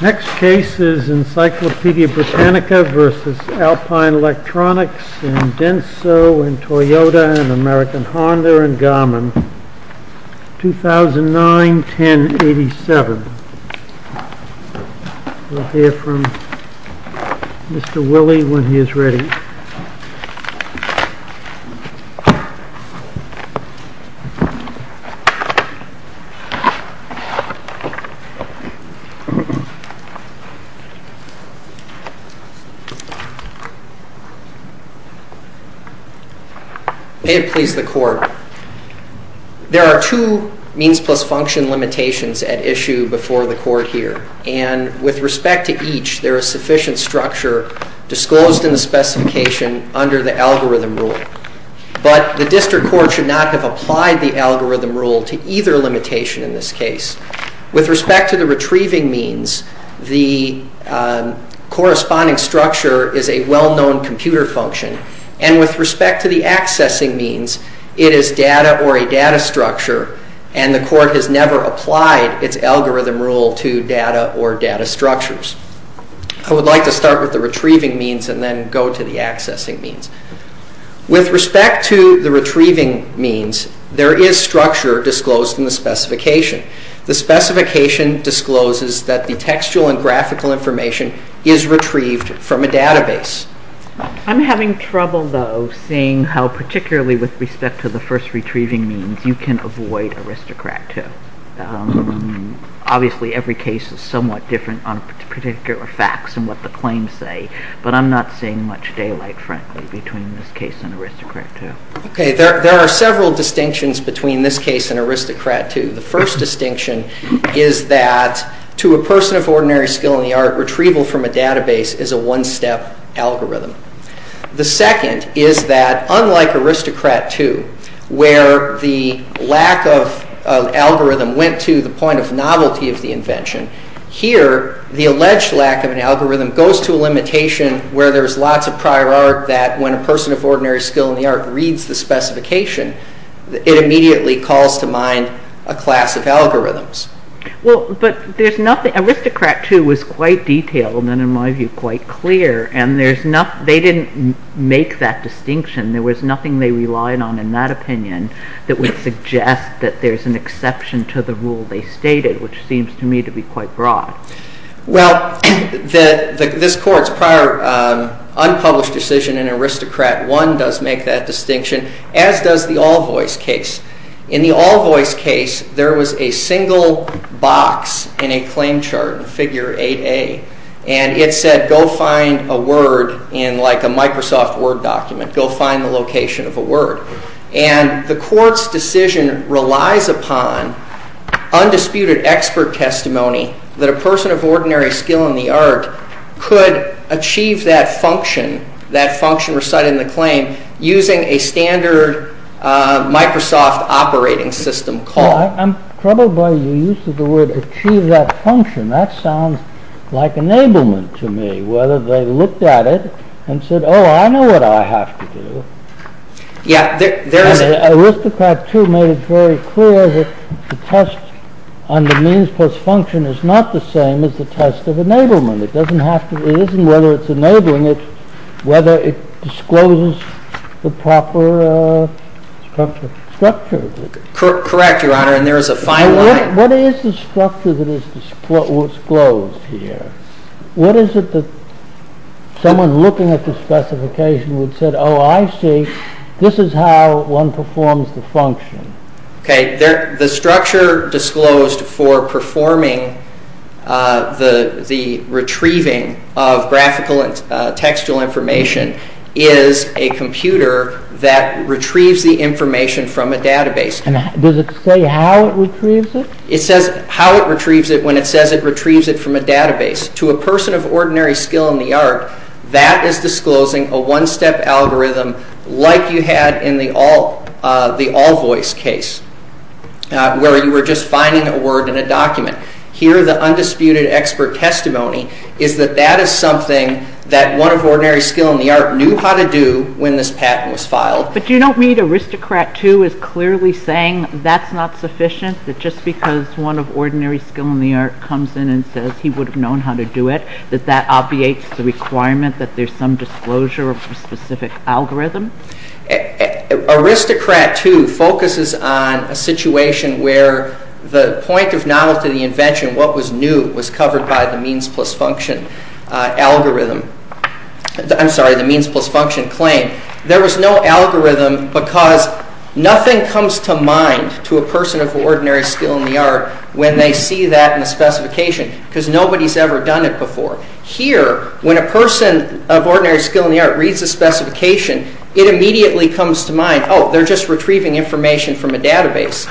Next case is Encyclopedia Britannica v. Alpine Electronics in Denso, Toyota, American Honda and Garmin 2009-10-87 There are two means plus function limitations at issue before the court here. And with respect to each, there is sufficient structure disclosed in the specification under the algorithm rule. But the district court should not have applied the algorithm rule to either limitation in this case. With respect to the retrieving means, the corresponding structure is a well-known computer function. And with respect to the accessing means, it is data or a data structure. And the court has never applied its algorithm rule to data or data structures. I would like to start with the retrieving means and then go to the accessing means. With respect to the retrieving means, there is structure disclosed in the specification. The specification discloses that the textual and graphical information is retrieved from a database. I'm having trouble, though, seeing how particularly with respect to the first retrieving means, you can avoid Aristocrat II. Obviously, every case is somewhat different on particular facts and what the claims say. But I'm not seeing much daylight, frankly, between this case and Aristocrat II. There are several distinctions between this case and Aristocrat II. The first distinction is that, to a person of ordinary skill in the art, retrieval from a database is a one-step algorithm. The second is that, unlike Aristocrat II, where the lack of algorithm went to the point of novelty of the invention, here, the alleged lack of an algorithm goes to a limitation where there's lots of prior art that, when a person of ordinary skill in the art reads the specification, it immediately calls to mind a class of algorithms. Well, but Aristocrat II was quite detailed and, in my view, quite clear. And they didn't make that distinction. There was nothing they relied on in that opinion that would suggest that there's an exception to the rule they stated, which seems to me to be quite broad. Well, this Court's prior unpublished decision in Aristocrat I does make that distinction, as does the Allvoice case. In the Allvoice case, there was a single box in a claim chart, figure 8A, and it said, go find a word in, like, a Microsoft Word document. And the Court's decision relies upon undisputed expert testimony that a person of ordinary skill in the art could achieve that function, that function recited in the claim, using a standard Microsoft operating system call. I'm troubled by the use of the word achieve that function. That sounds like enablement to me, whether they looked at it and said, oh, I know what I have to do. Yeah. Aristocrat II made it very clear that the test on the means plus function is not the same as the test of enablement. It doesn't have to be. It isn't whether it's enabling it, whether it discloses the proper structure. Correct, Your Honor, and there is a fine line. What is the structure that is disclosed here? What is it that someone looking at the specification would say, oh, I see. This is how one performs the function. Okay. The structure disclosed for performing the retrieving of graphical and textual information is a computer that retrieves the information from a database. And does it say how it retrieves it? It says how it retrieves it when it says it retrieves it from a database. To a person of ordinary skill in the art, that is disclosing a one-step algorithm like you had in the AllVoice case, where you were just finding a word in a document. Here, the undisputed expert testimony is that that is something that one of ordinary skill in the art knew how to do when this patent was filed. But do you not read Aristocrat 2 as clearly saying that's not sufficient, that just because one of ordinary skill in the art comes in and says he would have known how to do it, that that obviates the requirement that there's some disclosure of a specific algorithm? Aristocrat 2 focuses on a situation where the point of novelty of the invention, what was new, was covered by the means plus function claim. There was no algorithm because nothing comes to mind to a person of ordinary skill in the art when they see that in the specification because nobody's ever done it before. Here, when a person of ordinary skill in the art reads a specification, it immediately comes to mind, oh, they're just retrieving information from a database.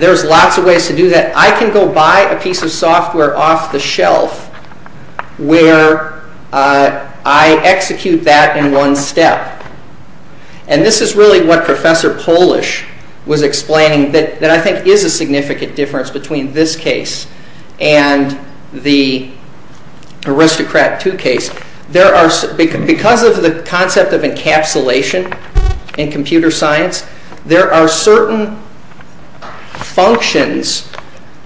There's lots of ways to do that. And I can go buy a piece of software off the shelf where I execute that in one step. And this is really what Professor Polish was explaining that I think is a significant difference between this case and the Aristocrat 2 case. Because of the concept of encapsulation in computer science, there are certain functions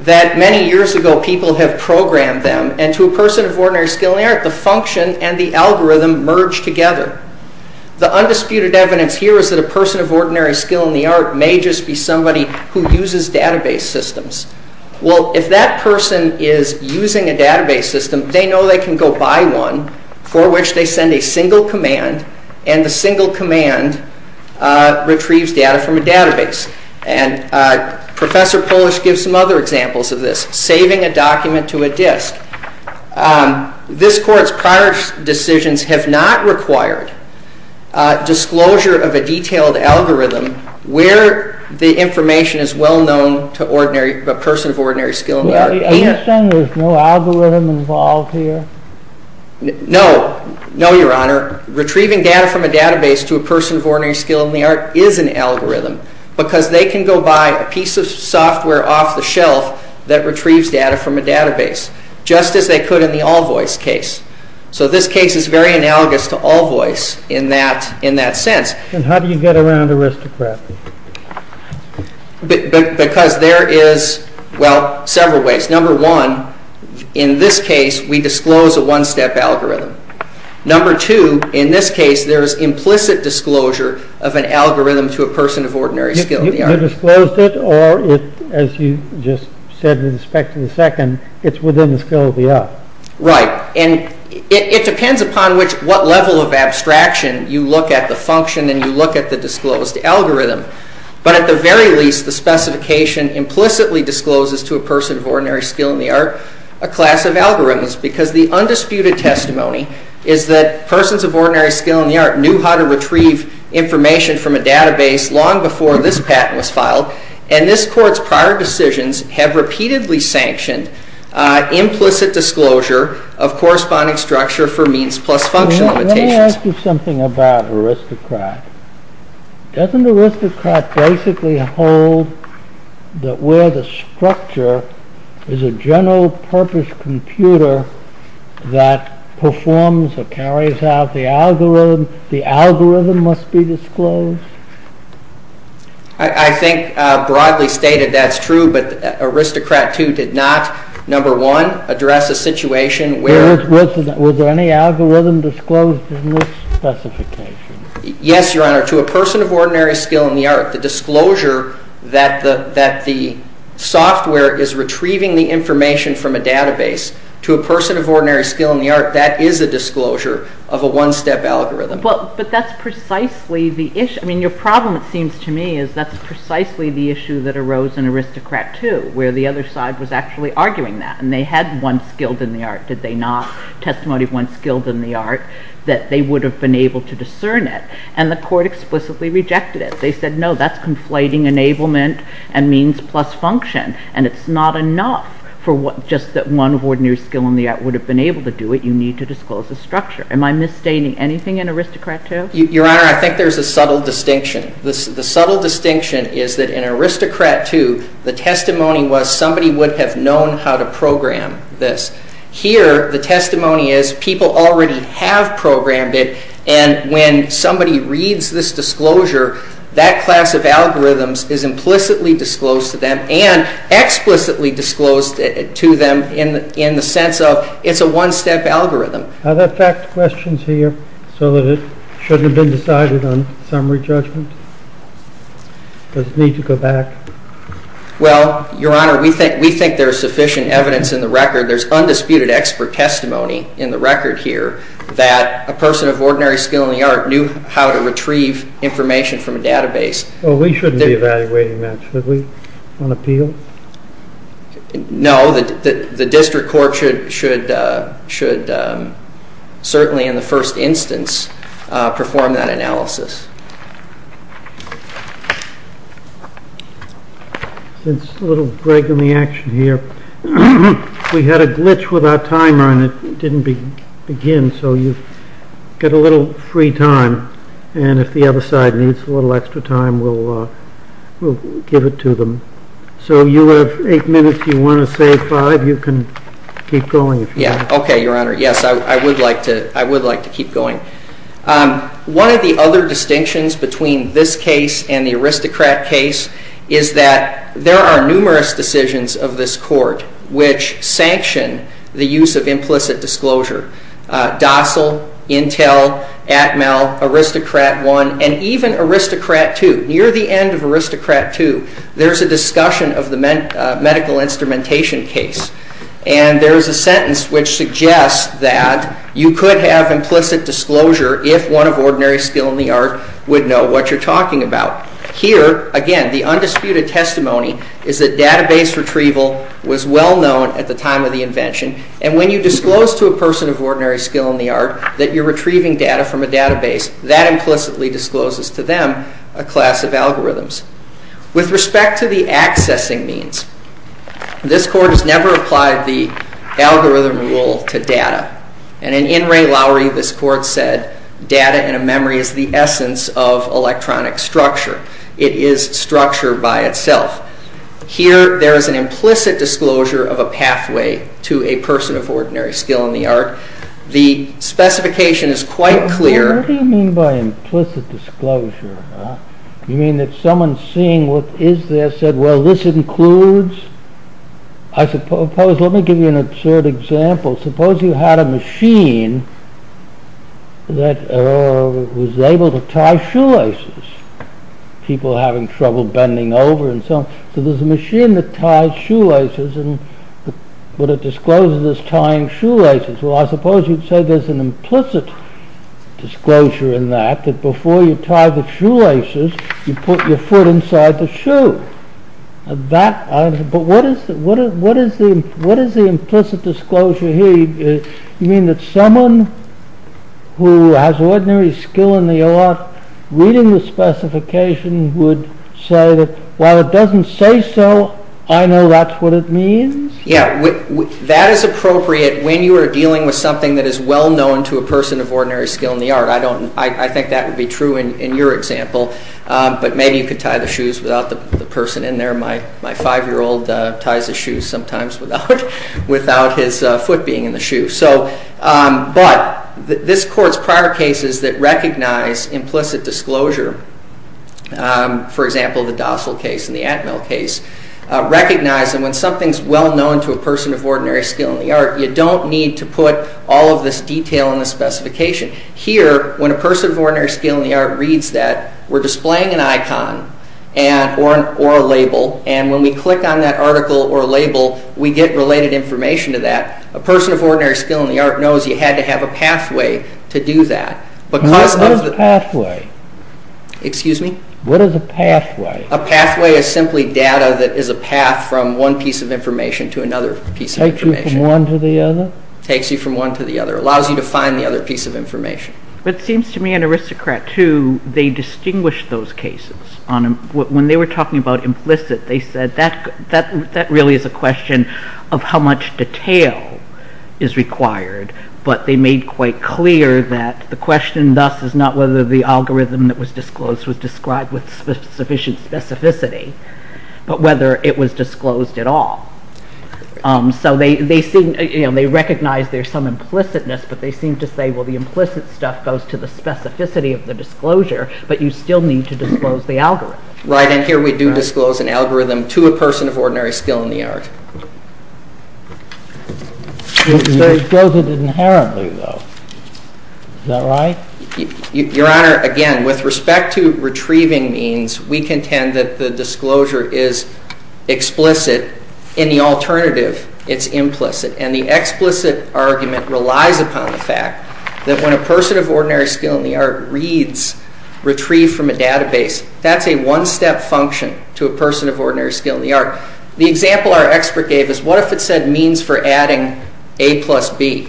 that many years ago people have programmed them. And to a person of ordinary skill in the art, the function and the algorithm merge together. The undisputed evidence here is that a person of ordinary skill in the art may just be somebody who uses database systems. Well, if that person is using a database system, they know they can go buy one for which they send a single command, and the single command retrieves data from a database. And Professor Polish gives some other examples of this, saving a document to a disk. This Court's prior decisions have not required disclosure of a detailed algorithm where the information is well known to a person of ordinary skill in the art. Well, are you saying there's no algorithm involved here? No. No, Your Honor. Retrieving data from a database to a person of ordinary skill in the art is an algorithm because they can go buy a piece of software off the shelf that retrieves data from a database, just as they could in the Allvoice case. So this case is very analogous to Allvoice in that sense. And how do you get around aristocracy? Because there is, well, several ways. Number one, in this case, we disclose a one-step algorithm. Number two, in this case, there's implicit disclosure of an algorithm to a person of ordinary skill in the art. You disclosed it, or, as you just said with respect to the second, it's within the skill of the art. Right. And it depends upon what level of abstraction you look at the function and you look at the disclosed algorithm. But at the very least, the specification implicitly discloses to a person of ordinary skill in the art a class of algorithms because the undisputed testimony is that persons of ordinary skill in the art knew how to retrieve information from a database long before this patent was filed, and this Court's prior decisions have repeatedly sanctioned implicit disclosure of corresponding structure for means plus functional limitations. Let me ask you something about aristocrat. Doesn't aristocrat basically hold that where the structure is a general-purpose computer that performs or carries out the algorithm, the algorithm must be disclosed? I think broadly stated that's true, but aristocrat too did not, number one, address a situation where... Was there any algorithm disclosed in this specification? Yes, Your Honor. To a person of ordinary skill in the art, the disclosure that the software is retrieving the information from a database, to a person of ordinary skill in the art, that is a disclosure of a one-step algorithm. But that's precisely the issue. I mean, your problem, it seems to me, is that's precisely the issue that arose in aristocrat too, where the other side was actually arguing that, and they had one skilled in the art, did they not? Testimony of one skilled in the art, that they would have been able to discern it, and the Court explicitly rejected it. They said, no, that's conflating enablement and means plus function, and it's not enough just that one of ordinary skill in the art would have been able to do it. You need to disclose the structure. Am I misstating anything in aristocrat too? Your Honor, I think there's a subtle distinction. The subtle distinction is that in aristocrat too, the testimony was somebody would have known how to program this. Here, the testimony is people already have programmed it, and when somebody reads this disclosure, that class of algorithms is implicitly disclosed to them, and explicitly disclosed to them in the sense of it's a one-step algorithm. Are there fact questions here so that it shouldn't have been decided on summary judgment? Does it need to go back? Well, Your Honor, we think there's sufficient evidence in the record. There's undisputed expert testimony in the record here that a person of ordinary skill in the art knew how to retrieve information from a database. Well, we shouldn't be evaluating that, should we? On appeal? No. The district court should certainly in the first instance perform that analysis. Since little Greg in the action here, we had a glitch with our timer and it didn't begin, so you get a little free time, and if the other side needs a little extra time, we'll give it to them. So you have eight minutes. If you want to say five, you can keep going. Okay, Your Honor. Yes, I would like to keep going. One of the other distinctions between this case and the aristocrat case is that there are numerous decisions of this court which sanction the use of implicit disclosure. Dossal, Intel, Atmel, Aristocrat I, and even Aristocrat II. Near the end of Aristocrat II, there's a discussion of the medical instrumentation case, and there's a sentence which suggests that you could have implicit disclosure if one of ordinary skill in the art would know what you're talking about. Here, again, the undisputed testimony is that database retrieval was well known at the time of the invention, and when you disclose to a person of ordinary skill in the art that you're retrieving data from a database, that implicitly discloses to them a class of algorithms. With respect to the accessing means, this court has never applied the algorithm rule to data, and in In Re Lauri, this court said, data in a memory is the essence of electronic structure. It is structure by itself. Here, there is an implicit disclosure of a pathway to a person of ordinary skill in the art. The specification is quite clear. What do you mean by implicit disclosure? You mean that someone seeing what is there said, well, this includes... Let me give you an absurd example. Suppose you had a machine that was able to tie shoelaces. People having trouble bending over and so on. So there's a machine that ties shoelaces, but it discloses it's tying shoelaces. Well, I suppose you'd say there's an implicit disclosure in that, that before you tie the shoelaces, you put your foot inside the shoe. But what is the implicit disclosure here? You mean that someone who has ordinary skill in the art reading the specification would say that while it doesn't say so, I know that's what it means? Yeah, that is appropriate when you are dealing with something that is well known to a person of ordinary skill in the art. I think that would be true in your example. But maybe you could tie the shoes without the person in there. My five-year-old ties his shoes sometimes without his foot being in the shoe. But this Court's prior cases that recognize implicit disclosure, for example, the Dossal case and the Atmel case, recognize that when something is well known to a person of ordinary skill in the art, you don't need to put all of this detail in the specification. Here, when a person of ordinary skill in the art reads that, we're displaying an icon or a label, and when we click on that article or label, we get related information to that. A person of ordinary skill in the art knows you had to have a pathway to do that. What is a pathway? A pathway is simply data that is a path from one piece of information to another piece of information. Takes you from one to the other? Takes you from one to the other. Allows you to find the other piece of information. But it seems to me an aristocrat too, they distinguish those cases. When they were talking about implicit, they said that really is a question of how much detail is required. But they made quite clear that the question thus is not whether the algorithm that was disclosed was described with sufficient specificity, but whether it was disclosed at all. So they recognize there's some implicitness, but they seem to say, well, the implicit stuff goes to the specificity of the disclosure, but you still need to disclose the algorithm. Right, and here we do disclose an algorithm to a person of ordinary skill in the art. You disclose it inherently, though. Is that right? Your Honor, again, with respect to retrieving means, we contend that the disclosure is explicit. In the alternative, it's implicit, and the explicit argument relies upon the fact that when a person of ordinary skill in the art reads retrieve from a database, that's a one-step function to a person of ordinary skill in the art. The example our expert gave is what if it said means for adding A plus B?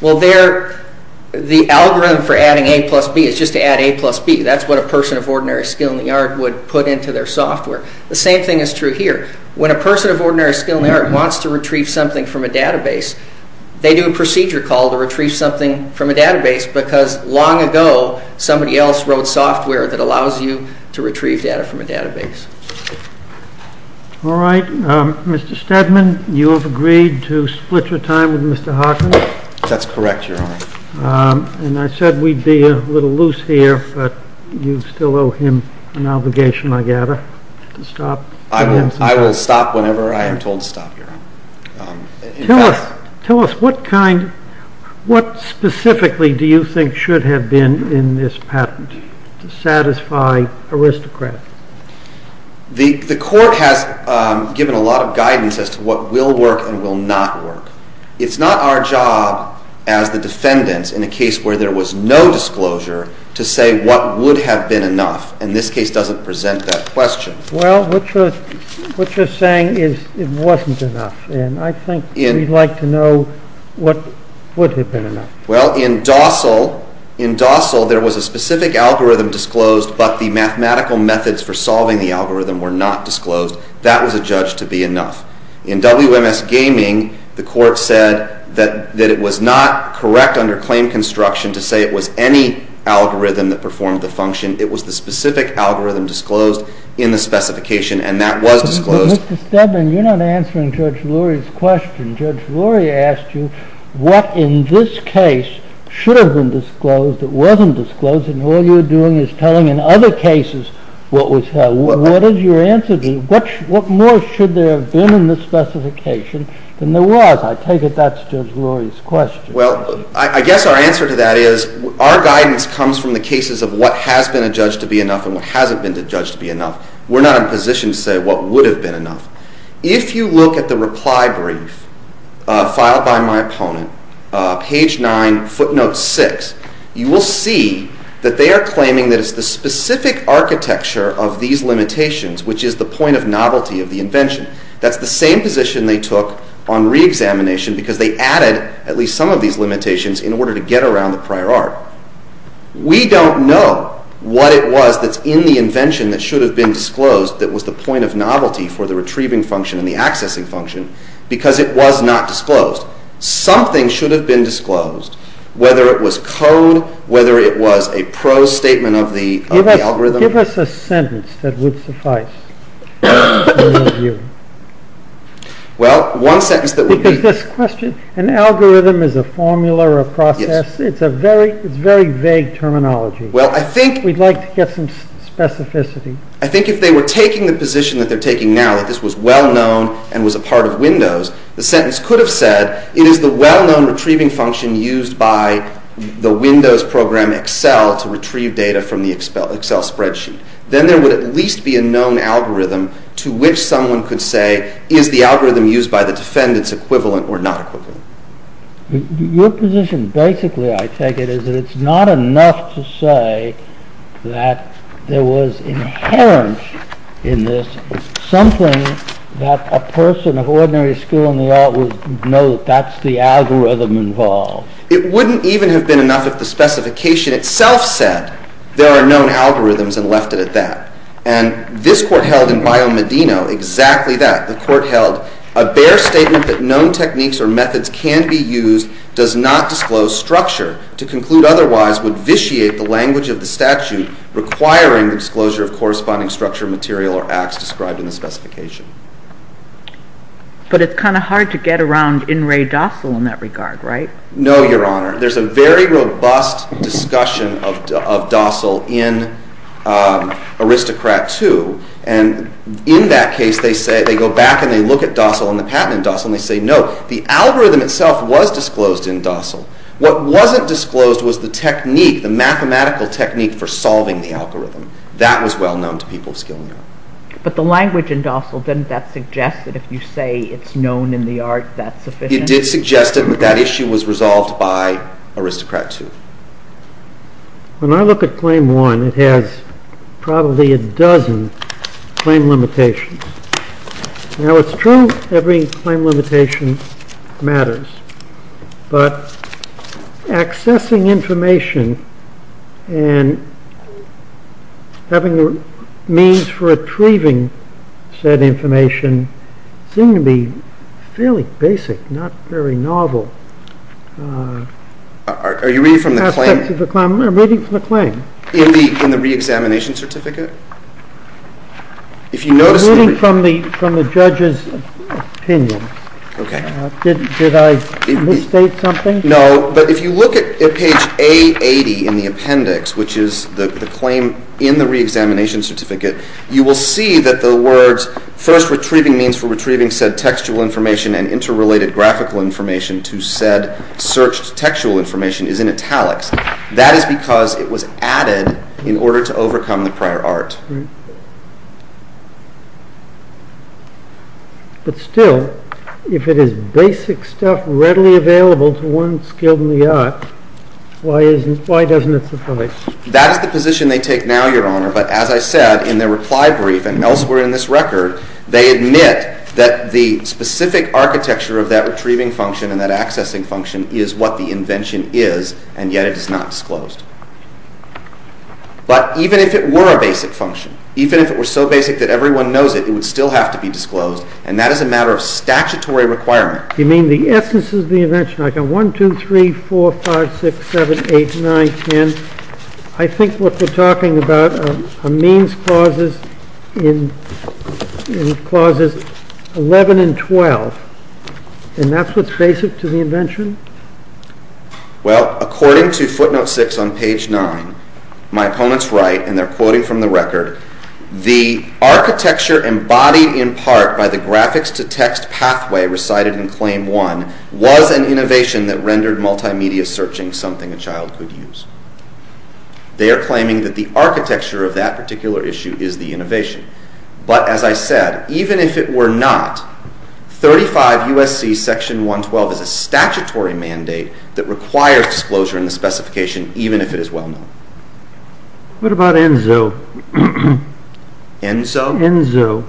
Well, the algorithm for adding A plus B is just to add A plus B. That's what a person of ordinary skill in the art would put into their software. The same thing is true here. When a person of ordinary skill in the art wants to retrieve something from a database, they do a procedure call to retrieve something from a database because long ago somebody else wrote software that allows you to retrieve data from a database. All right. Mr. Steadman, you have agreed to split your time with Mr. Hawkins? That's correct, Your Honor. And I said we'd be a little loose here, but you still owe him an obligation, I gather, to stop. I will stop whenever I am told to stop, Your Honor. Tell us, what specifically do you think should have been in this patent to satisfy aristocrats? The court has given a lot of guidance as to what will work and will not work. It's not our job as the defendants in a case where there was no disclosure to say what would have been enough, and this case doesn't present that question. Well, what you're saying is it wasn't enough, and I think we'd like to know what would have been enough. Well, in Dossal, there was a specific algorithm disclosed, but the mathematical methods for solving the algorithm were not disclosed. That was adjudged to be enough. In WMS Gaming, the court said that it was not correct under claim construction to say it was any algorithm that performed the function. It was the specific algorithm disclosed in the specification, and that was disclosed. Mr. Steadman, you're not answering Judge Lurie's question. Judge Lurie asked you what in this case should have been disclosed that wasn't disclosed, and all you're doing is telling in other cases what was held. What is your answer to that? What more should there have been in the specification than there was? I take it that's Judge Lurie's question. Well, I guess our answer to that is our guidance comes from the cases of what has been adjudged to be enough and what hasn't been adjudged to be enough. We're not in a position to say what would have been enough. If you look at the reply brief filed by my opponent, page 9, footnote 6, you will see that they are claiming that it's the specific architecture of these limitations which is the point of novelty of the invention. That's the same position they took on reexamination because they added at least some of these limitations in order to get around the prior art. We don't know what it was that's in the invention that should have been disclosed that was the point of novelty for the retrieving function and the accessing function because it was not disclosed. Something should have been disclosed, whether it was code, whether it was a pro statement of the algorithm. Give us a sentence that would suffice in your view. Well, one sentence that would be... An algorithm is a formula or a process. Yes. It's a very vague terminology. Well, I think... We'd like to get some specificity. I think if they were taking the position that they're taking now, that this was well-known and was a part of Windows, the sentence could have said, it is the well-known retrieving function used by the Windows program Excel to retrieve data from the Excel spreadsheet. Then there would at least be a known algorithm to which someone could say, is the algorithm used by the defendants equivalent or not equivalent. Your position basically, I take it, is that it's not enough to say that there was inherent in this something that a person of ordinary skill in the art would know that that's the algorithm involved. It wouldn't even have been enough if the specification itself said there are known algorithms and left it at that. And this court held in Bio Medino exactly that. The court held a bare statement that known techniques or methods can be used does not disclose structure. To conclude otherwise would vitiate the language of the statute requiring the disclosure of corresponding structure, material, or acts described in the specification. But it's kind of hard to get around in re docile in that regard, right? No, Your Honor. There's a very robust discussion of docile in Aristocrat 2. And in that case, they go back and they look at docile and the patent in docile, and they say, no, the algorithm itself was disclosed in docile. What wasn't disclosed was the technique, the mathematical technique for solving the algorithm. That was well known to people of skill in the art. But the language in docile, didn't that suggest that if you say it's known in the art, that's sufficient? It did suggest it, but that issue was resolved by Aristocrat 2. When I look at Claim 1, it has probably a dozen claim limitations. Now, it's true every claim limitation matters, but accessing information and having the means for retrieving said information seem to be fairly basic, not very novel. Are you reading from the claim? I'm reading from the claim. In the reexamination certificate? I'm reading from the judge's opinion. Did I misstate something? No, but if you look at page A80 in the appendix, which is the claim in the reexamination certificate, you will see that the words, first, retrieving means for retrieving said textual information and interrelated graphical information to said searched textual information is in italics. That is because it was added in order to overcome the prior art. But still, if it is basic stuff readily available to one skilled in the art, why doesn't it suffice? That is the position they take now, Your Honor, but as I said in their reply brief and elsewhere in this record, they admit that the specific architecture of that retrieving function and that accessing function is what the invention is, and yet it is not disclosed. But even if it were a basic function, even if it were so basic that everyone knows it, it would still have to be disclosed, and that is a matter of statutory requirement. You mean the essence of the invention? I've got 1, 2, 3, 4, 5, 6, 7, 8, 9, 10. I think what we're talking about are means clauses in clauses 11 and 12, and that's what's basic to the invention? Well, according to footnote 6 on page 9, my opponents write, and they're quoting from the record, the architecture embodied in part by the graphics-to-text pathway recited in claim 1 was an innovation that rendered multimedia searching something a child could use. They are claiming that the architecture of that particular issue is the innovation. But as I said, even if it were not, 35 U.S.C. Section 112 is a statutory mandate that requires disclosure in the specification, even if it is well known. What about Enzo? Enzo?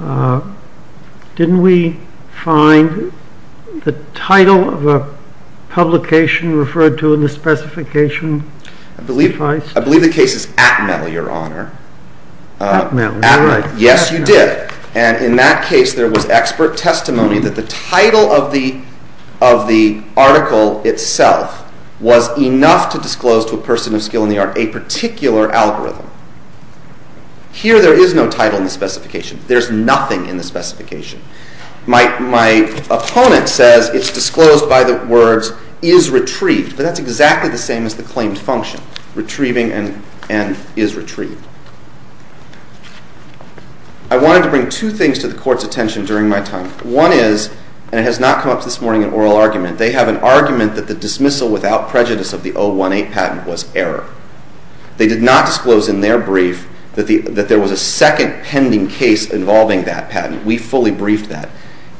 Enzo. Didn't we find the title of a publication referred to in the specification? I believe the case is Atmel, Your Honor. Atmel, you're right. Yes, you did. And in that case, there was expert testimony that the title of the article itself was enough to disclose to a person of skill in the art a particular algorithm. Here, there is no title in the specification. There's nothing in the specification. My opponent says it's disclosed by the words is retrieved, but that's exactly the same as the claimed function, retrieving and is retrieved. I wanted to bring two things to the Court's attention during my time. One is, and it has not come up this morning in oral argument, they have an argument that the dismissal without prejudice of the 018 patent was error. They did not disclose in their brief that there was a second pending case involving that patent. We fully briefed that.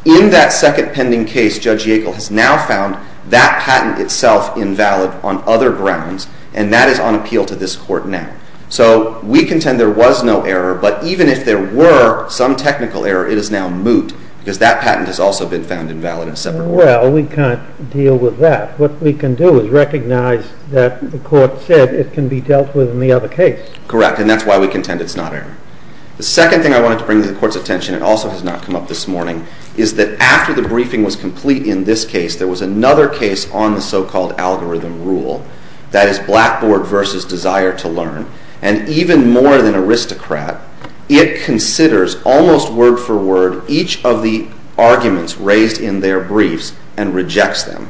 In that second pending case, Judge Yackel has now found that patent itself invalid on other grounds, and that is on appeal to this Court now. So we contend there was no error, but even if there were some technical error, it is now moot because that patent has also been found invalid in a separate order. Well, we can't deal with that. What we can do is recognize that the Court said it can be dealt with in the other case. Correct, and that's why we contend it's not error. The second thing I wanted to bring to the Court's attention, and it also has not come up this morning, is that after the briefing was complete in this case, there was another case on the so-called algorithm rule. That is Blackboard v. Desire to Learn. And even more than Aristocrat, it considers almost word-for-word each of the arguments raised in their briefs and rejects them.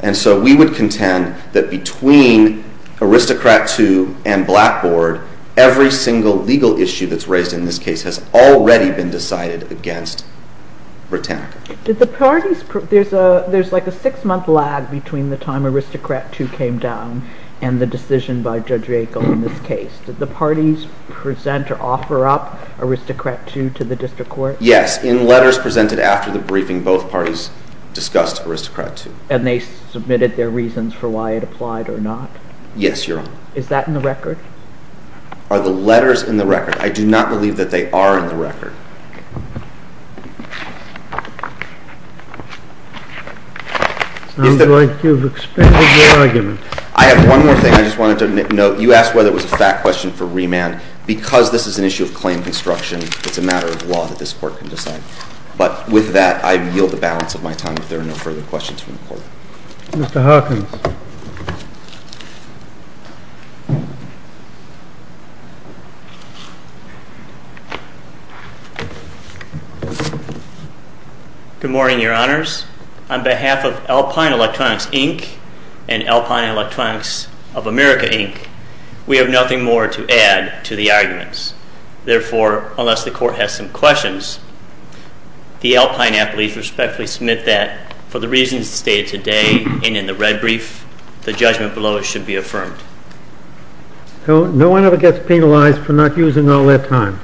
And so we would contend that between Aristocrat II and Blackboard, every single legal issue that's raised in this case has already been decided against Britannica. There's like a six-month lag between the time Aristocrat II came down and the decision by Judge Riegel in this case. Did the parties present or offer up Aristocrat II to the District Court? Yes, in letters presented after the briefing, both parties discussed Aristocrat II. And they submitted their reasons for why it applied or not? Yes, Your Honor. Is that in the record? Are the letters in the record? I do not believe that they are in the record. It sounds like you've expanded your argument. I have one more thing I just wanted to note. You asked whether it was a fact question for remand. Because this is an issue of claim construction, it's a matter of law that this Court can decide. But with that, I yield the balance of my time if there are no further questions from the Court. Mr. Hawkins. Good morning, Your Honors. On behalf of Alpine Electronics, Inc. and Alpine Electronics of America, Inc., we have nothing more to add to the arguments. Therefore, unless the Court has some questions, the Alpine athletes respectfully submit that for the reasons stated today and in the red brief, the judgment below it should be affirmed. No one ever gets penalized for not using all their time.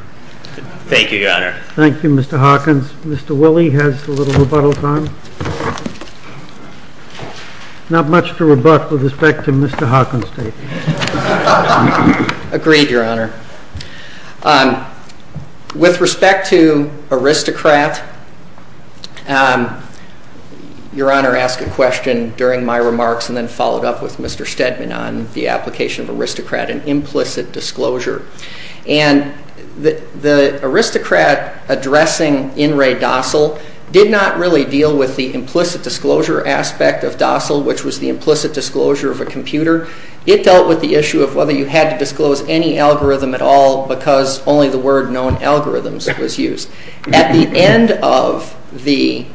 Thank you, Your Honor. Thank you, Mr. Hawkins. Mr. Willie has a little rebuttal time. Not much to rebut with respect to Mr. Hawkins' statement. Agreed, Your Honor. With respect to aristocrat, Your Honor asked a question during my remarks and then followed up with Mr. Stedman on the application of aristocrat and implicit disclosure. And the aristocrat addressing In re docile did not really deal with the implicit disclosure aspect of docile, which was the implicit disclosure of a computer. It dealt with the issue of whether you had to disclose any algorithm at all because only the word known algorithms was used. At the end of the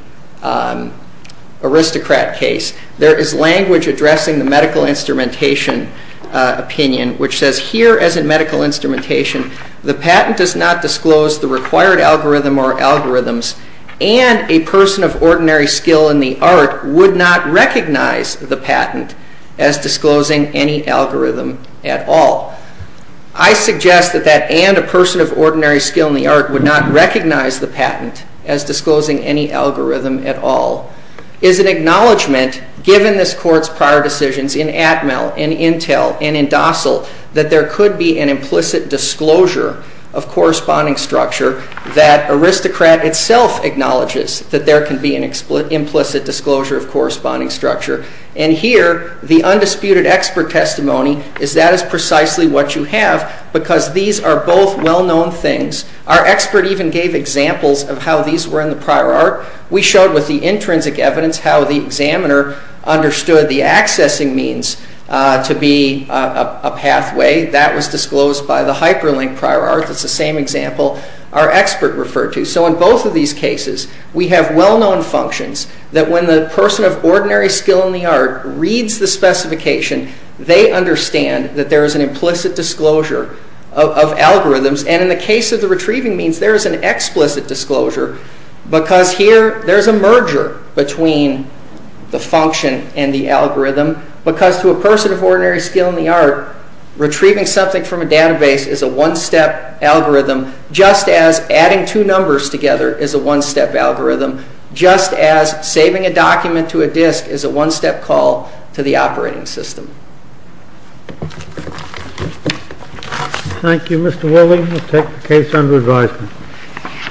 aristocrat case, there is language addressing the medical instrumentation opinion, which says here as in medical instrumentation, the patent does not disclose the required algorithm or algorithms and a person of ordinary skill in the art would not recognize the patent as disclosing any algorithm at all. I suggest that that and a person of ordinary skill in the art would not recognize the patent as disclosing any algorithm at all is an acknowledgment given this court's prior decisions in Atmel, in Intel, and in docile that there could be an implicit disclosure of corresponding structure that aristocrat itself acknowledges that there can be an implicit disclosure of corresponding structure. And here, the undisputed expert testimony is that is precisely what you have because these are both well-known things. Our expert even gave examples of how these were in the prior art. We showed with the intrinsic evidence how the examiner understood the accessing means to be a pathway. That was disclosed by the hyperlink prior art. It's the same example our expert referred to. So in both of these cases, we have well-known functions that when the person of ordinary skill in the art reads the specification, they understand that there is an implicit disclosure of algorithms and in the case of the retrieving means, there is an explicit disclosure because here, there's a merger between the function and the algorithm because to a person of ordinary skill in the art, retrieving something from a database is a one-step algorithm just as adding two numbers together is a one-step algorithm just as saving a document to a disk is a one-step call to the operating system. Thank you, Mr. Woolley. We'll take the case under advisement. Thank you.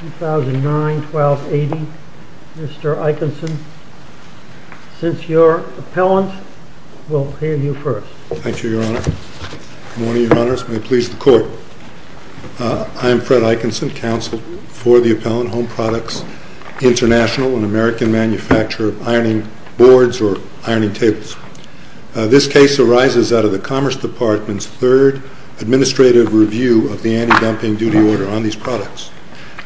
2009, 1280. Mr. Eikenson, since you're appellant, we'll hear you first. Thank you, Your Honor. Good morning, Your Honors. May it please the Court. I am Fred Eikenson, counsel for the Appellant Home Products International, an American manufacturer of ironing boards or ironing tables. This case arises out of the Commerce Department's third administrative review of the anti-dumping duty order on these products.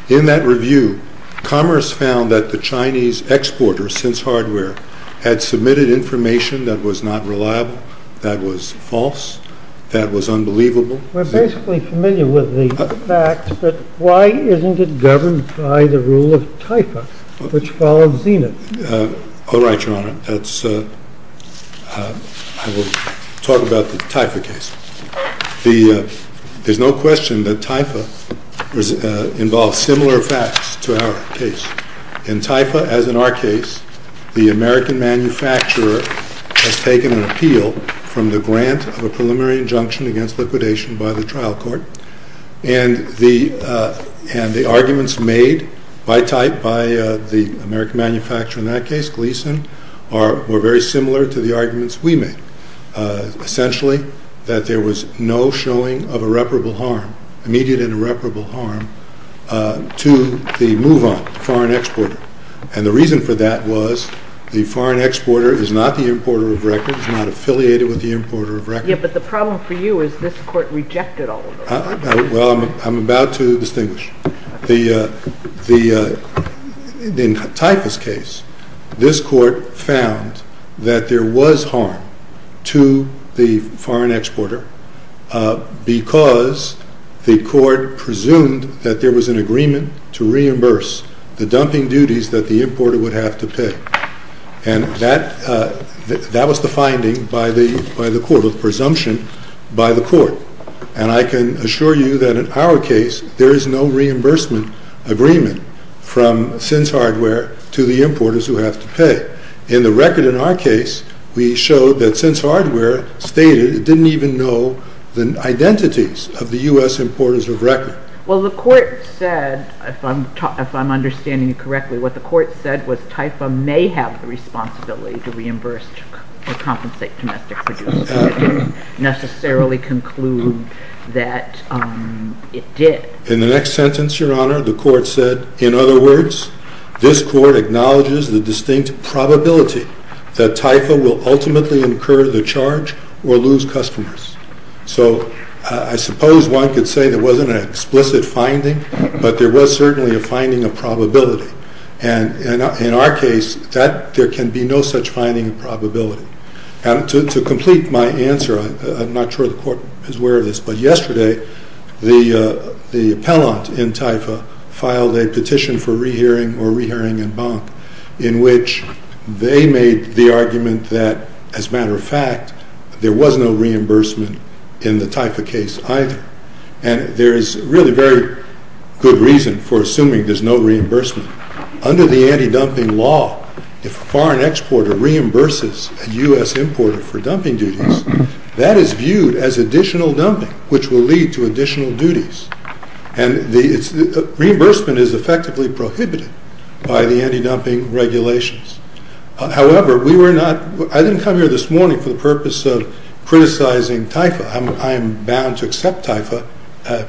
In that review, Commerce found that the Chinese exporter, Sins Hardware, had submitted information that was not reliable, that was false, that was unbelievable. We're basically familiar with the fact that why isn't it governed by the rule of TIFA, which follows Zenith? All right, Your Honor. I will talk about the TIFA case. There's no question that TIFA involves similar facts to our case. In TIFA, as in our case, the American manufacturer has taken an appeal from the grant of a preliminary injunction against liquidation by the trial court, and the arguments made by type by the American manufacturer in that case, Gleason, were very similar to the arguments we made. Essentially, that there was no showing of irreparable harm, immediate and irreparable harm, to the move-on, the foreign exporter. And the reason for that was the foreign exporter is not the importer of records, is not affiliated with the importer of records. Yeah, but the problem for you is this court rejected all of those. Well, I'm about to distinguish. In TIFA's case, this court found that there was harm to the foreign exporter because the court presumed that there was an agreement to reimburse the dumping duties that the importer would have to pay. And that was the finding by the court, the presumption by the court. And I can assure you that in our case, there is no reimbursement agreement from Sins Hardware to the importers who have to pay. In the record in our case, we showed that Sins Hardware stated it didn't even know the identities of the U.S. importers of record. Well, the court said, if I'm understanding you correctly, what the court said was TIFA may have the responsibility to reimburse or compensate domestic producers. It didn't necessarily conclude that it did. In the next sentence, Your Honor, the court said, in other words, this court acknowledges the distinct probability that TIFA will ultimately incur the charge or lose customers. So I suppose one could say there wasn't an explicit finding, but there was certainly a finding of probability. And in our case, there can be no such finding of probability. To complete my answer, I'm not sure the court is aware of this, but yesterday, the appellant in TIFA filed a petition for rehearing, or rehearing en banc, in which they made the argument that, as a matter of fact, there was no reimbursement in the TIFA case either. And there is really very good reason for assuming there's no reimbursement. Under the anti-dumping law, if a foreign exporter reimburses a U.S. importer for dumping duties, that is viewed as additional dumping, which will lead to additional duties. And reimbursement is effectively prohibited by the anti-dumping regulations. However, we were not... I didn't come here this morning for the purpose of criticizing TIFA. I am bound to accept TIFA.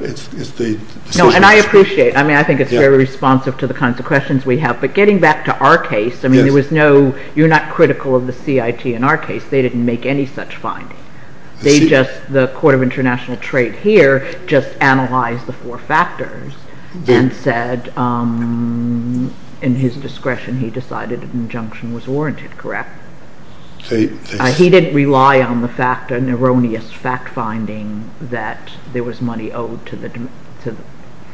It's the... No, and I appreciate... I mean, I think it's very responsive to the kinds of questions we have. But getting back to our case, I mean, there was no... You're not critical of the CIT in our case. They didn't make any such finding. They just... The Court of International Trade here just analyzed the four factors and said in his discretion he decided an injunction was warranted, correct? He didn't rely on the fact, an erroneous fact-finding that there was money owed to the...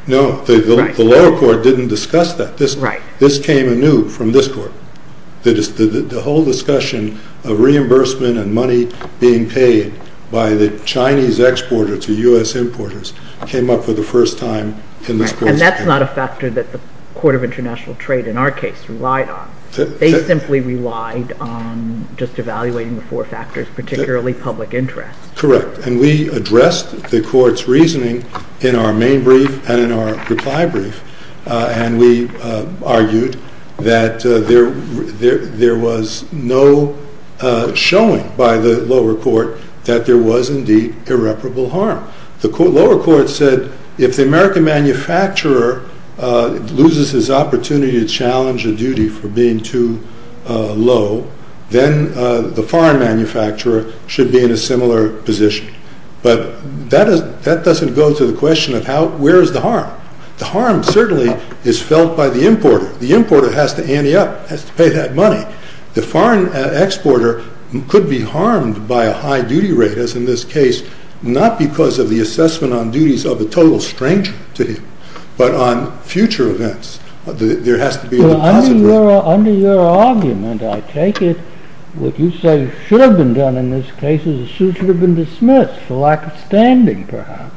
No, the lower court didn't discuss that. This came anew from this court. The whole discussion of reimbursement and money being paid by the Chinese exporter to U.S. importers came up for the first time in this court's... And that's not a factor that the Court of International Trade in our case relied on. They simply relied on just evaluating the four factors, particularly public interest. Correct. And we addressed the court's reasoning in our main brief and in our reply brief. And we argued that there was no showing by the lower court that there was indeed irreparable harm. The lower court said if the American manufacturer loses his opportunity to challenge a duty for being too low, then the foreign manufacturer should be in a similar position. But that doesn't go to the question of where is the harm? The harm certainly is felt by the importer. The importer has to ante up, has to pay that money. The foreign exporter could be harmed by a high duty rate, as in this case, not because of the assessment on duties of a total stranger to him, but on future events. There has to be a deposit rate. Under your argument, I take it, what you say should have been done in this case is the suit should have been dismissed for lack of standing, perhaps.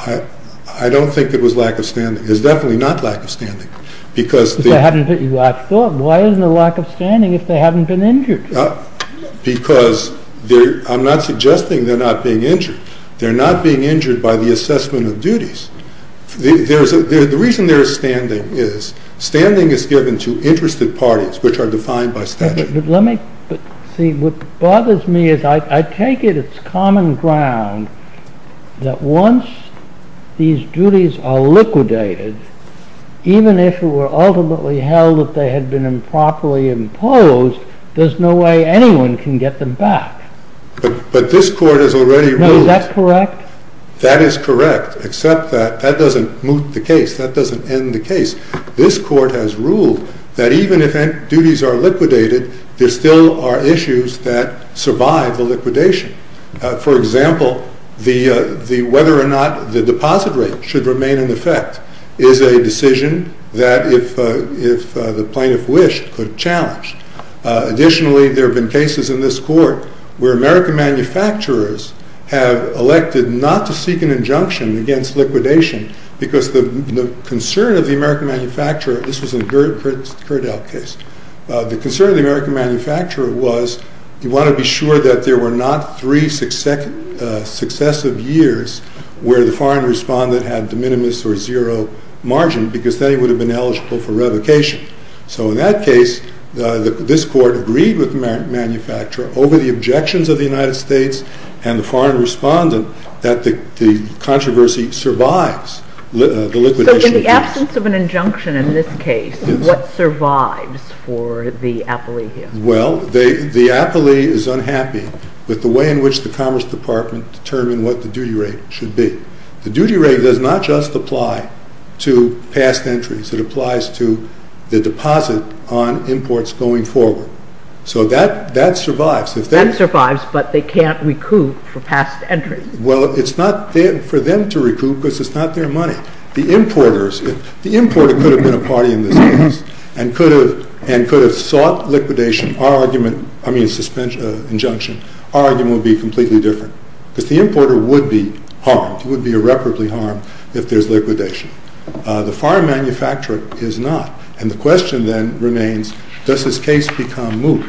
I don't think it was lack of standing. It was definitely not lack of standing. I thought, why isn't it lack of standing if they haven't been injured? Because I'm not suggesting they're not being injured. They're not being injured by the assessment of duties. The reason there is standing is standing is given to interested parties which are defined by statute. Let me see. What bothers me is I take it it's common ground that once these duties are liquidated, even if it were ultimately held that they had been improperly imposed, there's no way anyone can get them back. But this court has already ruled... No, is that correct? That is correct, except that that doesn't move the case. That doesn't end the case. This court has ruled that even if duties are liquidated, there still are issues that survive the liquidation. For example, whether or not the deposit rate should remain in effect is a decision that if the plaintiff wished could challenge. Additionally, there have been cases in this court where American manufacturers have elected not to seek an injunction against liquidation because the concern of the American manufacturer... This was in the Gerdeld case. The concern of the American manufacturer was you want to be sure that there were not three successive years where the foreign respondent had de minimis or zero margin because then he would have been eligible for revocation. So in that case, this court agreed with the manufacturer over the objections of the United States and the foreign respondent that the controversy survives the liquidation case. So in the absence of an injunction in this case, what survives for the appellee here? Well, the appellee is unhappy with the way in which the Commerce Department determined what the duty rate should be. The duty rate does not just apply to past entries. It applies to the deposit on imports going forward. So that survives. That survives, but they can't recoup for past entries. Well, it's not for them to recoup because it's not their money. The importer could have been a party in this case and could have sought liquidation. Our argument, I mean injunction, our argument would be completely different because the importer would be harmed. He would be irreparably harmed if there's liquidation. The foreign manufacturer is not and the question then remains does this case become moot?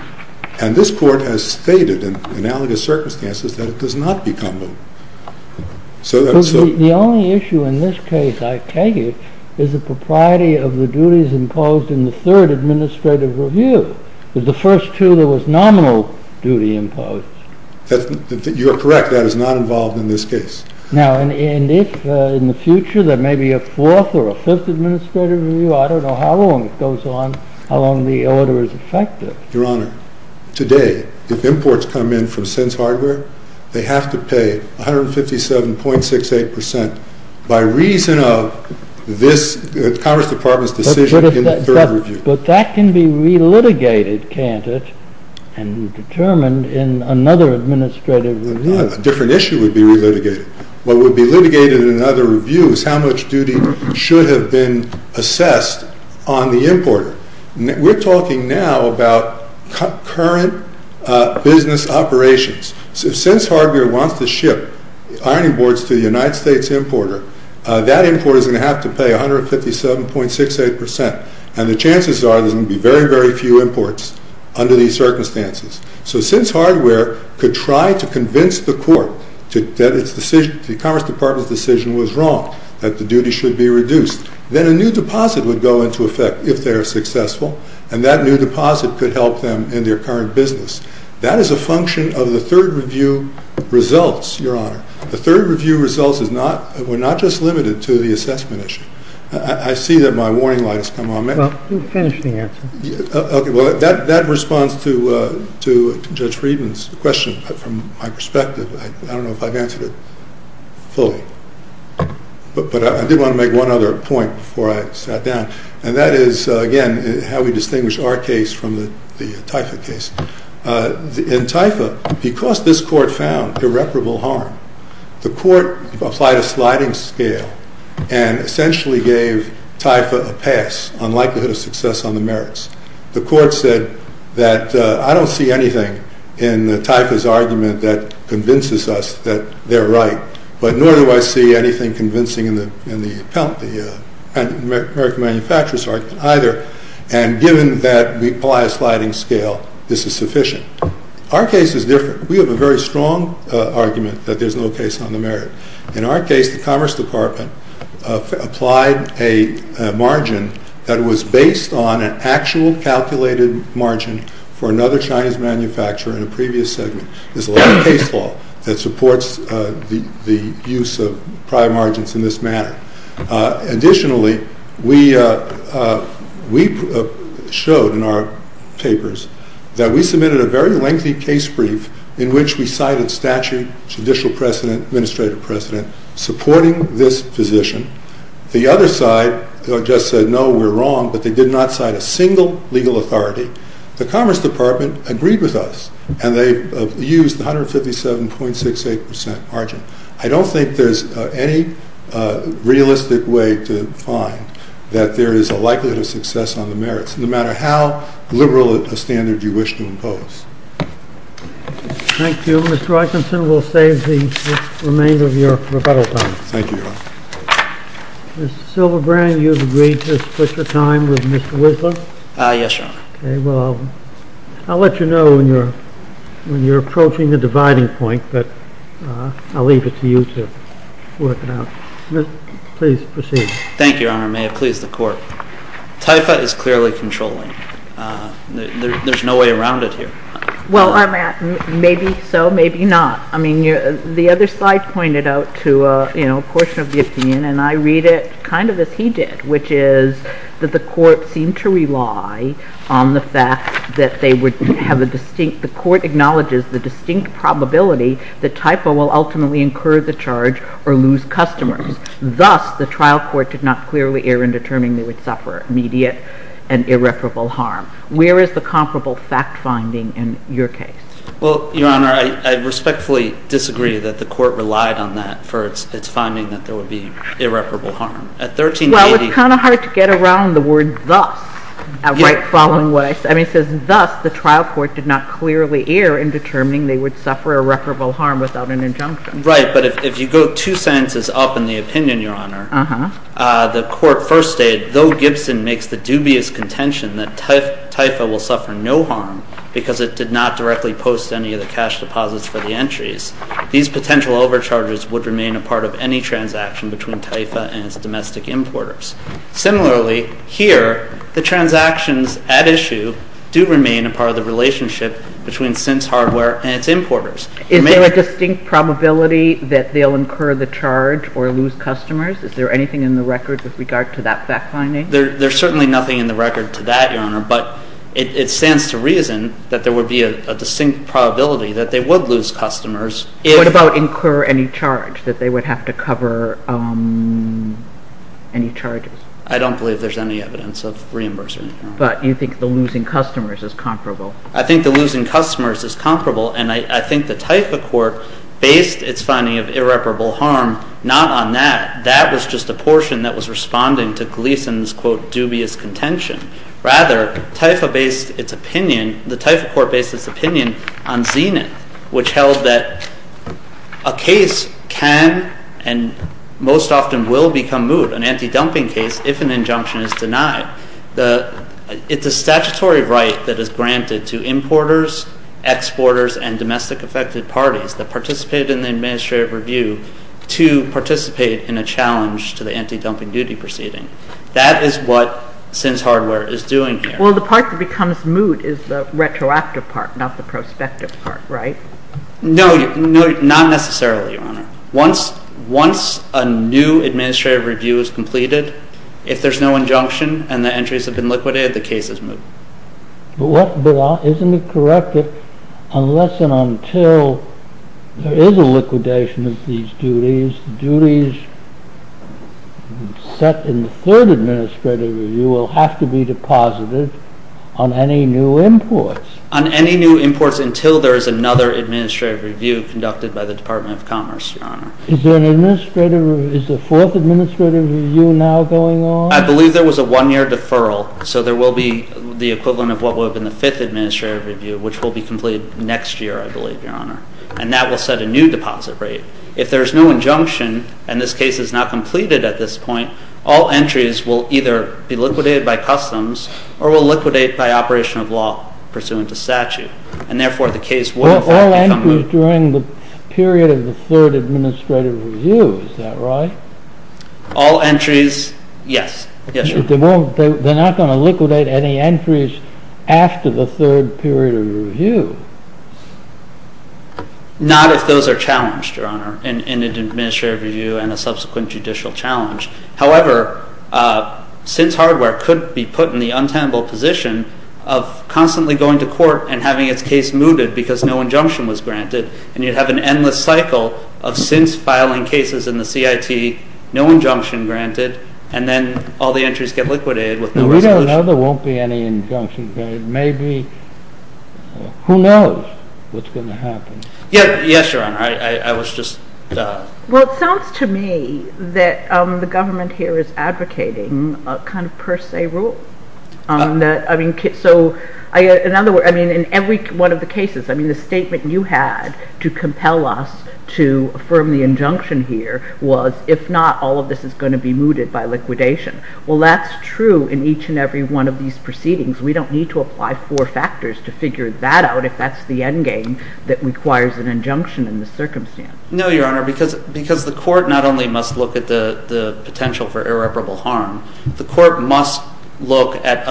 And this court has stated in analogous circumstances that it does not become moot. The only issue in this case, I take it, is the propriety of the duties imposed in the third administrative review. The first two, there was nominal duty imposed. You are correct. That is not involved in this case. Now, and if in the future there may be a fourth or a fifth administrative review, I don't know how long it goes on, how long the order is effective. Your Honor, today, if imports come in from Sense Hardware, they have to pay 157.68% by reason of this Congress Department's decision in the third review. But that can be re-litigated, can't it? And determined in another administrative review. A different issue would be re-litigated. What would be litigated in another review is how much duty should have been assessed on the importer. We're talking now about current business operations. Since Hardware wants to ship ironing boards to the United States importer, that importer is going to have to pay 157.68%. And the chances are there's going to be very, very few imports under these circumstances. So since Hardware could try to convince the court that the Commerce Department's decision was wrong, that the duty should be reduced, then a new deposit would go into effect if they are successful, and that new deposit could help them in their current business. That is a function of the third review results, Your Honor. The third review results were not just limited to the assessment issue. I see that my warning light has come on. Well, you finished the answer. That responds to Judge Friedman's question. From my perspective, I don't know if I've answered it fully. But I did want to make one other point before I sat down. And that is, again, how we distinguish our case from the TIFA case. In TIFA, because this court found irreparable harm, the court applied a sliding scale and essentially gave TIFA a pass on likelihood of success on the merits. The court said that I don't see anything in TIFA's argument that convinces us that they're right, but nor do I see anything convincing in the American Manufacturers' argument either. And given that we apply a sliding scale, this is sufficient. Our case is different. We have a very strong argument that there's no case on the merit. In our case, the Commerce Department applied a margin that was based on an actual calculated margin for another Chinese manufacturer in a previous segment. There's a lot of case law that supports the use of prior margins in this manner. Additionally, we showed in our papers that we submitted a very lengthy case brief in which we cited statute, judicial precedent, administrative precedent supporting this position. The other side just said, no, we're wrong, but they did not cite a single legal authority. The Commerce Department agreed with us and they used 157.68% margin. I don't think there's any realistic way to find that there is a likelihood of success on the merits, no matter how liberal a standard you wish to impose. Thank you. Well, Mr. Eikenson, we'll save the remainder of your rebuttal time. Thank you, Your Honor. Ms. Silverbrand, you've agreed to split your time with Mr. Whistler? Yes, Your Honor. Okay. Well, I'll let you know when you're approaching the dividing point, but I'll leave it to you to work it out. Please proceed. Thank you, Your Honor. May it please the Court. TIFA is clearly controlling. There's no way around it here. Well, maybe so, maybe not. I mean, the other slide pointed out to a portion of the opinion, and I read it kind of as he did, which is that the Court seemed to rely on the fact that the Court acknowledges the distinct probability that TIFA will ultimately incur the charge or lose customers. Thus, the trial court did not clearly err in determining they would suffer immediate and irreparable harm. Where is the comparable fact finding in your case? Well, Your Honor, I respectfully disagree that the Court relied on that for its finding that there would be irreparable harm. At 1380... Well, it's kind of hard to get around the word thus right following what I said. I mean, it says, thus, the trial court did not clearly err in determining they would suffer irreparable harm without an injunction. Right, but if you go two sentences up in the opinion, Your Honor, the Court first stated, though Gibson makes the dubious contention that TIFA will suffer no harm because it did not directly post any of the cash deposits for the entries, these potential overcharges would remain a part of any transaction between TIFA and its domestic importers. Similarly, here, the transactions at issue do remain a part of the relationship between Sins Hardware and its importers. Is there a distinct probability that they'll incur the charge or lose customers? Is there anything in the record with regard to that fact finding? There's certainly nothing in the record to that, Your Honor, but it stands to reason that there would be a distinct probability that they would lose customers if... What about incur any charge, that they would have to cover any charges? I don't believe there's any evidence of reimbursement, Your Honor. But you think the losing customers is comparable? I think the losing customers is comparable and I think the TIFA Court based its finding of irreparable harm not on that. That was just a portion that was responding to Gleason's, quote, dubious contention. Rather, TIFA based its opinion, the TIFA Court based its opinion on Zenith, which held that a case can and most often will become moot, an anti-dumping case, if an injunction is denied. It's a statutory right that is granted to importers, exporters, and domestic affected parties that participated in the administrative review to participate in a challenge to the anti-dumping duty proceeding. That is what Sins Hardware is doing here. Well, the part that becomes moot is the retroactive part, not the prospective part, right? No, not necessarily, Your Honor. Once a new administrative review is completed, if there's no injunction and the entries have been liquidated, the case is moot. But isn't it correct that unless and until there is a liquidation of these duties, duties set in the third administrative review will have to be deposited on any new imports? On any new imports until there is another administrative review conducted by the Department of Commerce, Your Honor. Is there an administrative review, is the fourth administrative review now going on? I believe there was a one-year deferral, so there will be the equivalent of what would have been the fifth administrative review, which will be completed next year, I believe, Your Honor. And that will set a new deposit rate. If there's no injunction and this case is not completed at this point, all entries will either be liquidated by customs or will liquidate by operation of law pursuant to statute. And therefore, the case will, in fact, become moot. All entries during the period of the third administrative review, is that right? All entries, yes. They're not going to liquidate any entries after the third period of review? Not if those are challenged, Your Honor, in an administrative review and a subsequent judicial challenge. However, since hardware could be put in the untenable position of constantly going to court and having its case mooted because no injunction was granted, and you'd have an endless cycle of since filing cases in the CIT, no injunction granted, and then all the entries get liquidated with no resolution. Now, we don't know there won't be any injunction granted. Who knows what's going to happen? Yes, Your Honor. Well, it sounds to me that the government here is advocating a kind of per se rule. In every one of the cases, the statement you had to compel us to affirm the injunction here was, if not, all of this is going to be mooted by liquidation. Well, that's true in each and every one of these proceedings. We don't need to apply four factors to figure that out if that's the endgame that requires an injunction in this circumstance. No, Your Honor, because the court not only must look at the potential for irreparable harm, the court must look at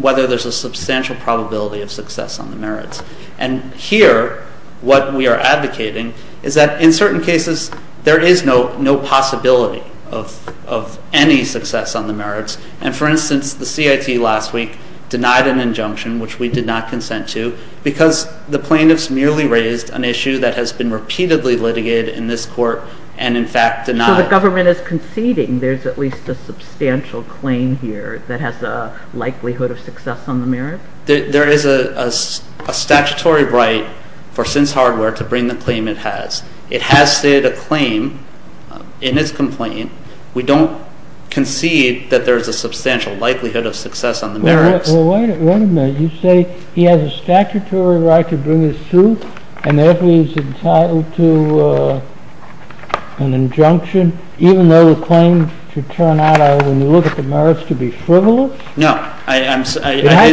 whether there's a substantial probability of success on the merits. And here, what we are advocating is that, in certain cases, there is no possibility of any success on the merits. And, for instance, the CIT last week denied an injunction which we did not consent to because the plaintiffs merely raised an issue that has been repeatedly litigated in this court and, in fact, denied. So the government is conceding there's at least a substantial claim here that has a likelihood of success on the merits? There is a statutory right for SINCE Hardware to bring the claim it has. It has stated a claim in its complaint. We don't concede that there's a substantial likelihood of success on the merits. Well, wait a minute. You say he has a statutory right to bring his suit and therefore he's entitled to an injunction even though the claim should turn out, when you look at the merits, to be frivolous? No. It has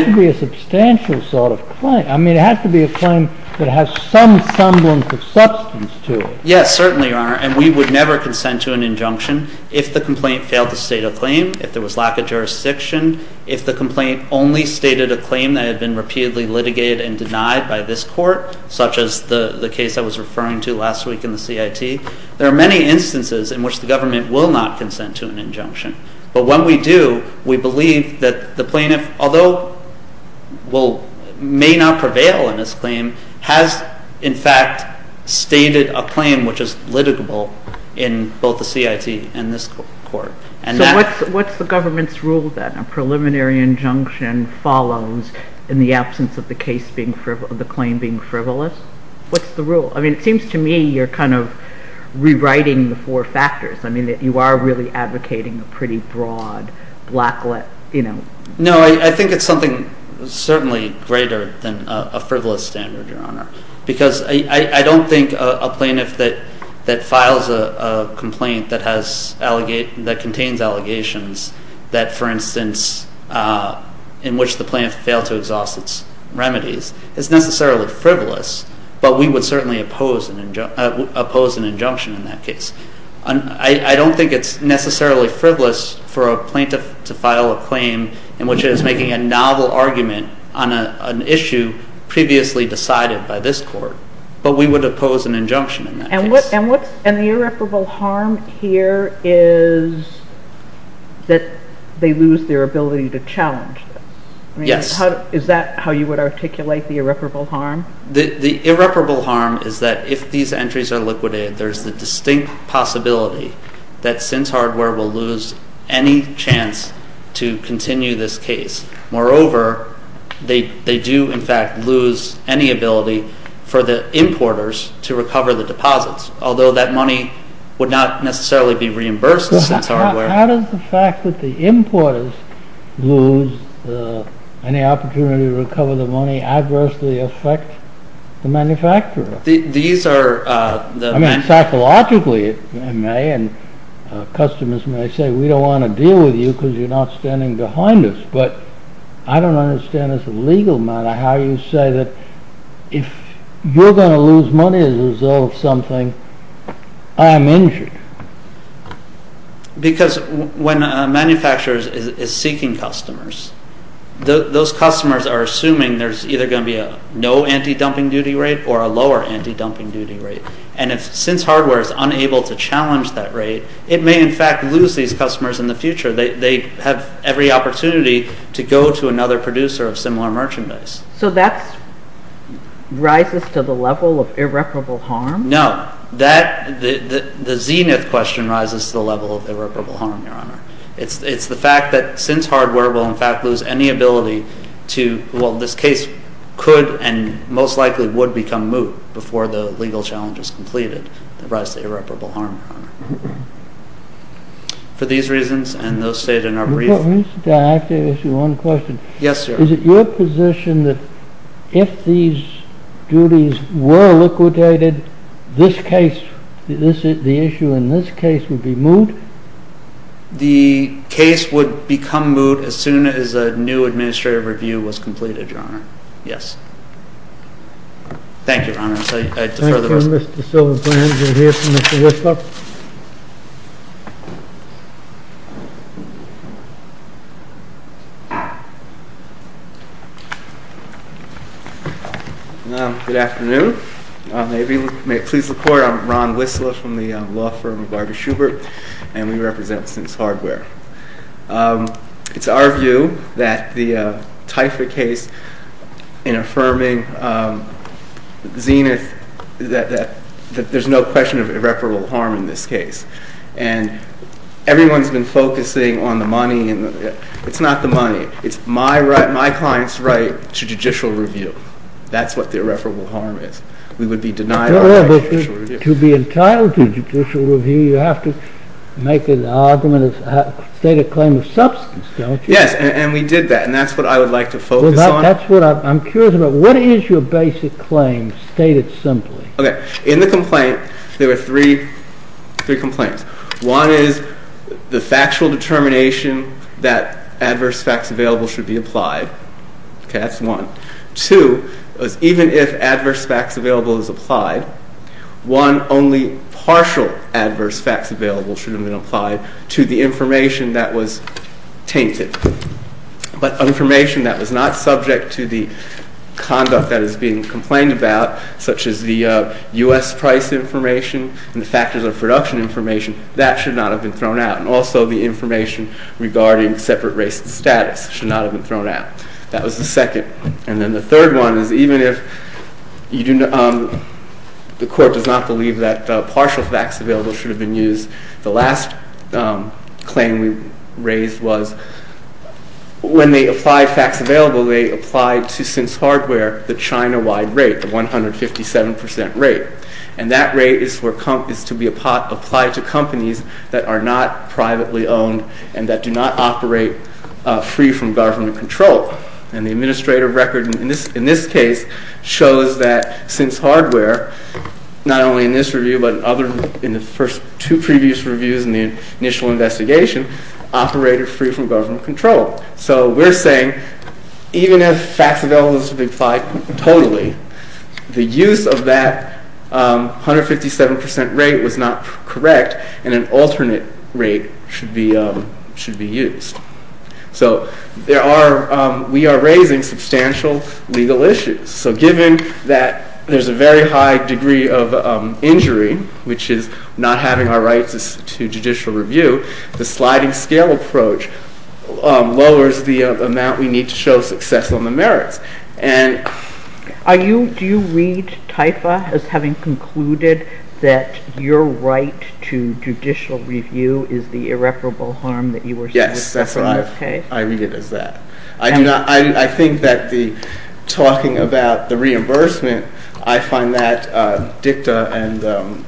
to be a substantial sort of claim. I mean, it has to be a claim that has some semblance of substance to it. Yes, certainly, Your Honor. And we would never consent to an injunction if the complaint failed to state a claim, if there was lack of jurisdiction, if the complaint only stated a claim that had been repeatedly litigated and denied by this Court, such as the case I was referring to last week in the CIT. There are many instances in which the government will not consent to an injunction. But when we do, we believe that the plaintiff, although may not prevail in this claim, has in fact stated a claim which is litigable in both the CIT and this Court. So what's the government's rule then? A preliminary injunction follows in the absence of the claim being frivolous? What's the rule? I mean, it seems to me you're kind of rewriting the four factors. I mean, you are really advocating a pretty broad blacklist, you know. No, I think it's something certainly greater than a frivolous standard, Your Honor, because I don't think a plaintiff that files a complaint that contains allegations that, for instance, in which the plaintiff failed to exhaust its remedies, is necessarily frivolous, but we would certainly oppose an injunction in that case. I don't think it's necessarily frivolous for a plaintiff to file a claim in which it is making a novel argument on an issue previously decided by this Court, but we would oppose an injunction in that case. And the irreparable harm here is that they lose their ability to challenge this. Yes. Is that how you would articulate the irreparable harm? The irreparable harm is that if these entries are liquidated, there's the distinct possibility that Sins Hardware will lose any chance to continue this case. Moreover, they do, in fact, lose any ability for the importers to recover the deposits, although that money would not necessarily be reimbursed by Sins Hardware. How does the fact that the importers lose any opportunity to recover the money adversely affect the manufacturer? These are... I mean, psychologically it may, and customers may say, we don't want to deal with you because you're not standing behind us, but I don't understand as a legal matter how you say that if you're going to lose money as a result of something, I am injured. Because when a manufacturer is seeking customers, those customers are assuming there's either going to be a no anti-dumping duty rate or a lower anti-dumping duty rate. And if Sins Hardware is unable to challenge that rate, it may, in fact, lose these customers in the future. They have every opportunity to go to another producer of similar merchandise. So that rises to the level of irreparable harm? No. That... The zenith question rises to the level of irreparable harm, Your Honor. It's the fact that Sins Hardware will, in fact, lose any ability to... Well, this case could and most likely would become moot before the legal challenge is completed. It rises to irreparable harm, Your Honor. For these reasons and those stated in our brief... May I ask you one question? Yes, Your Honor. Is it your position that if these duties were liquidated, this case, the issue in this case would be moot? The case would become moot as soon as a new administrative review was completed, Your Honor. Yes. Thank you, Your Honor. Thank you, Mr. Silverplan. We'll hear from Mr. Whistler. Good afternoon. May it please the Court, I'm Ron Whistler from the law firm of Barber-Shubert, and we represent Sins Hardware. It's our view that the TIFA case in affirming zenith, that there's no question of irreparable harm in this case, and everyone's been focusing on the money. It's not the money. It's my client's right to judicial review. That's what the irreparable harm is. We would be denied our right to judicial review. To be entitled to judicial review, you have to make an argument and state a claim of substance, don't you? Yes, and we did that, and that's what I would like to focus on. I'm curious about what is your basic claim, stated simply? Okay. In the complaint, there were three complaints. One is the factual determination that adverse facts available should be applied. Okay, that's one. Two, even if adverse facts available is applied, one, only partial adverse facts available should have been applied to the information that was tainted, but information that was not subject to the conduct that is being complained about, such as the U.S. price information and the factors of production information, that should not have been thrown out, and also the information regarding separate race and status should not have been thrown out. That was the second. And then the third one is even if the court does not believe that partial facts available should have been used, the last claim we raised was when they applied facts available, they applied to since hardware the China-wide rate, the 157 percent rate. And that rate is to be applied to companies that are not privately owned and that do not operate free from government control. And the administrative record in this case shows that since hardware, not only in this review, but in the first two previous reviews in the initial investigation, operated free from government control. So we're saying even if facts available should be applied totally, the use of that 157 percent rate was not correct and an alternate rate should be used. So we are raising substantial legal issues. So given that there's a very high degree of injury, which is not having our rights to judicial review, the sliding scale approach lowers the amount we need to show success on the merits. Are you, do you read TIFA as having concluded that your right to judicial review is the irreparable harm that you were said to suffer in this case? Yes, that's right. I read it as that. I do not, I think that the talking about the reimbursement, I find that dicta and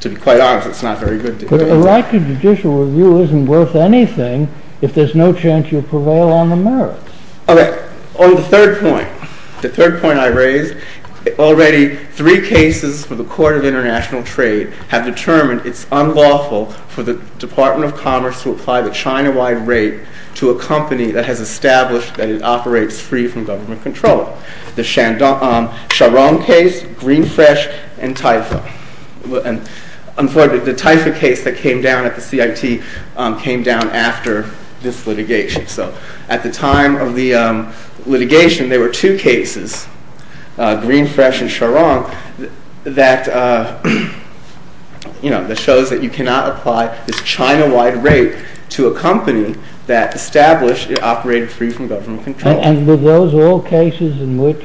to be quite honest, it's not very good dicta. But a right to judicial review isn't worth anything if there's no chance you prevail on the merits. Okay. Oh, the third point. The third point I raised. Already three cases for the Court of International Trade have determined it's unlawful for the Department of Commerce to apply the China-wide rate to a company that has established that it operates free from government control. The Sharon case, Green Fresh, and TIFA. And unfortunately, the TIFA case that came down at the CIT came down after this litigation. So at the time of the litigation, there were two cases, Green Fresh and Sharon, that shows that you cannot apply this China-wide rate to a company that established it operated free from government control. And were those all cases in which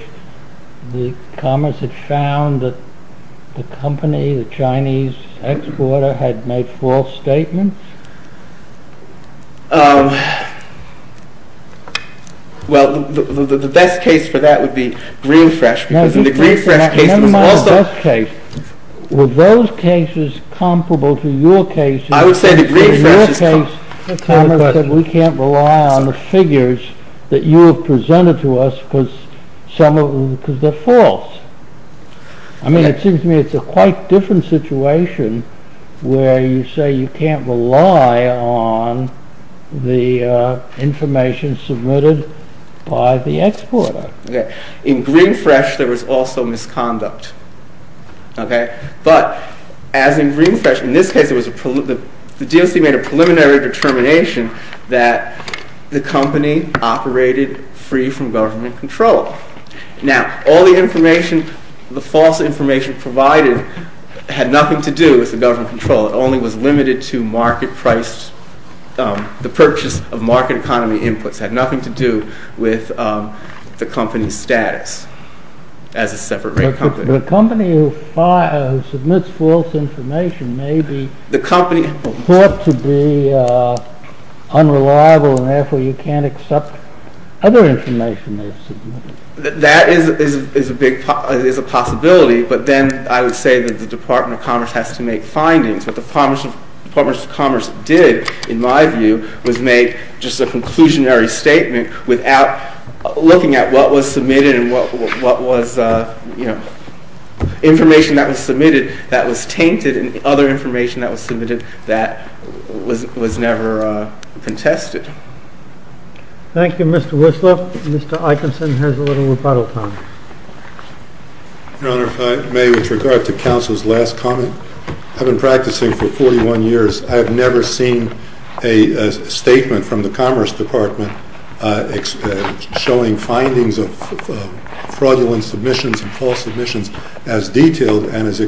the Commerce had found that the company, the Chinese exporter had made false statements? Well, the best case for that would be Green Fresh, because in the Green Fresh case it was also... Never mind the best case. Were those cases comparable to your cases? I would say the Green Fresh is... In your case, the Commerce said we can't rely on the figures that you have presented to us because they're false. I mean, it seems to me it's a quite different situation where you say you can't rely on the figures and you can't rely on the information submitted by the exporter. In Green Fresh there was also misconduct. But as in Green Fresh, in this case the DOC made a preliminary determination that the company operated free from government control. Now, all the information, the false information provided had nothing to do with the government control. It only was limited to market price. The purchase of market economy inputs had nothing to do with the company's status as a separate rate company. But a company who submits false information may be thought to be unreliable and therefore you can't accept other information they've submitted. That is a possibility but then I would say that the Department of Commerce has to make findings but the Department of Commerce did, in my view, was make just a conclusionary statement without looking at what was submitted and what was you know information that was submitted that was tainted and other information that was submitted that was never contested. Thank you, Mr. Wislaw. Mr. Eikenson has a little rebuttal time. Your Honor, if I may with regard to counsel's last comment, I've been practicing for 41 years. I have never seen a statement from the Commerce Department submissions as detailed and as extensive as the Department of Commerce has. I have never seen a statement from the Commerce Department showing Department of Commerce has. I have never seen a statement from the Commerce Department as detailed and as extensive as the Department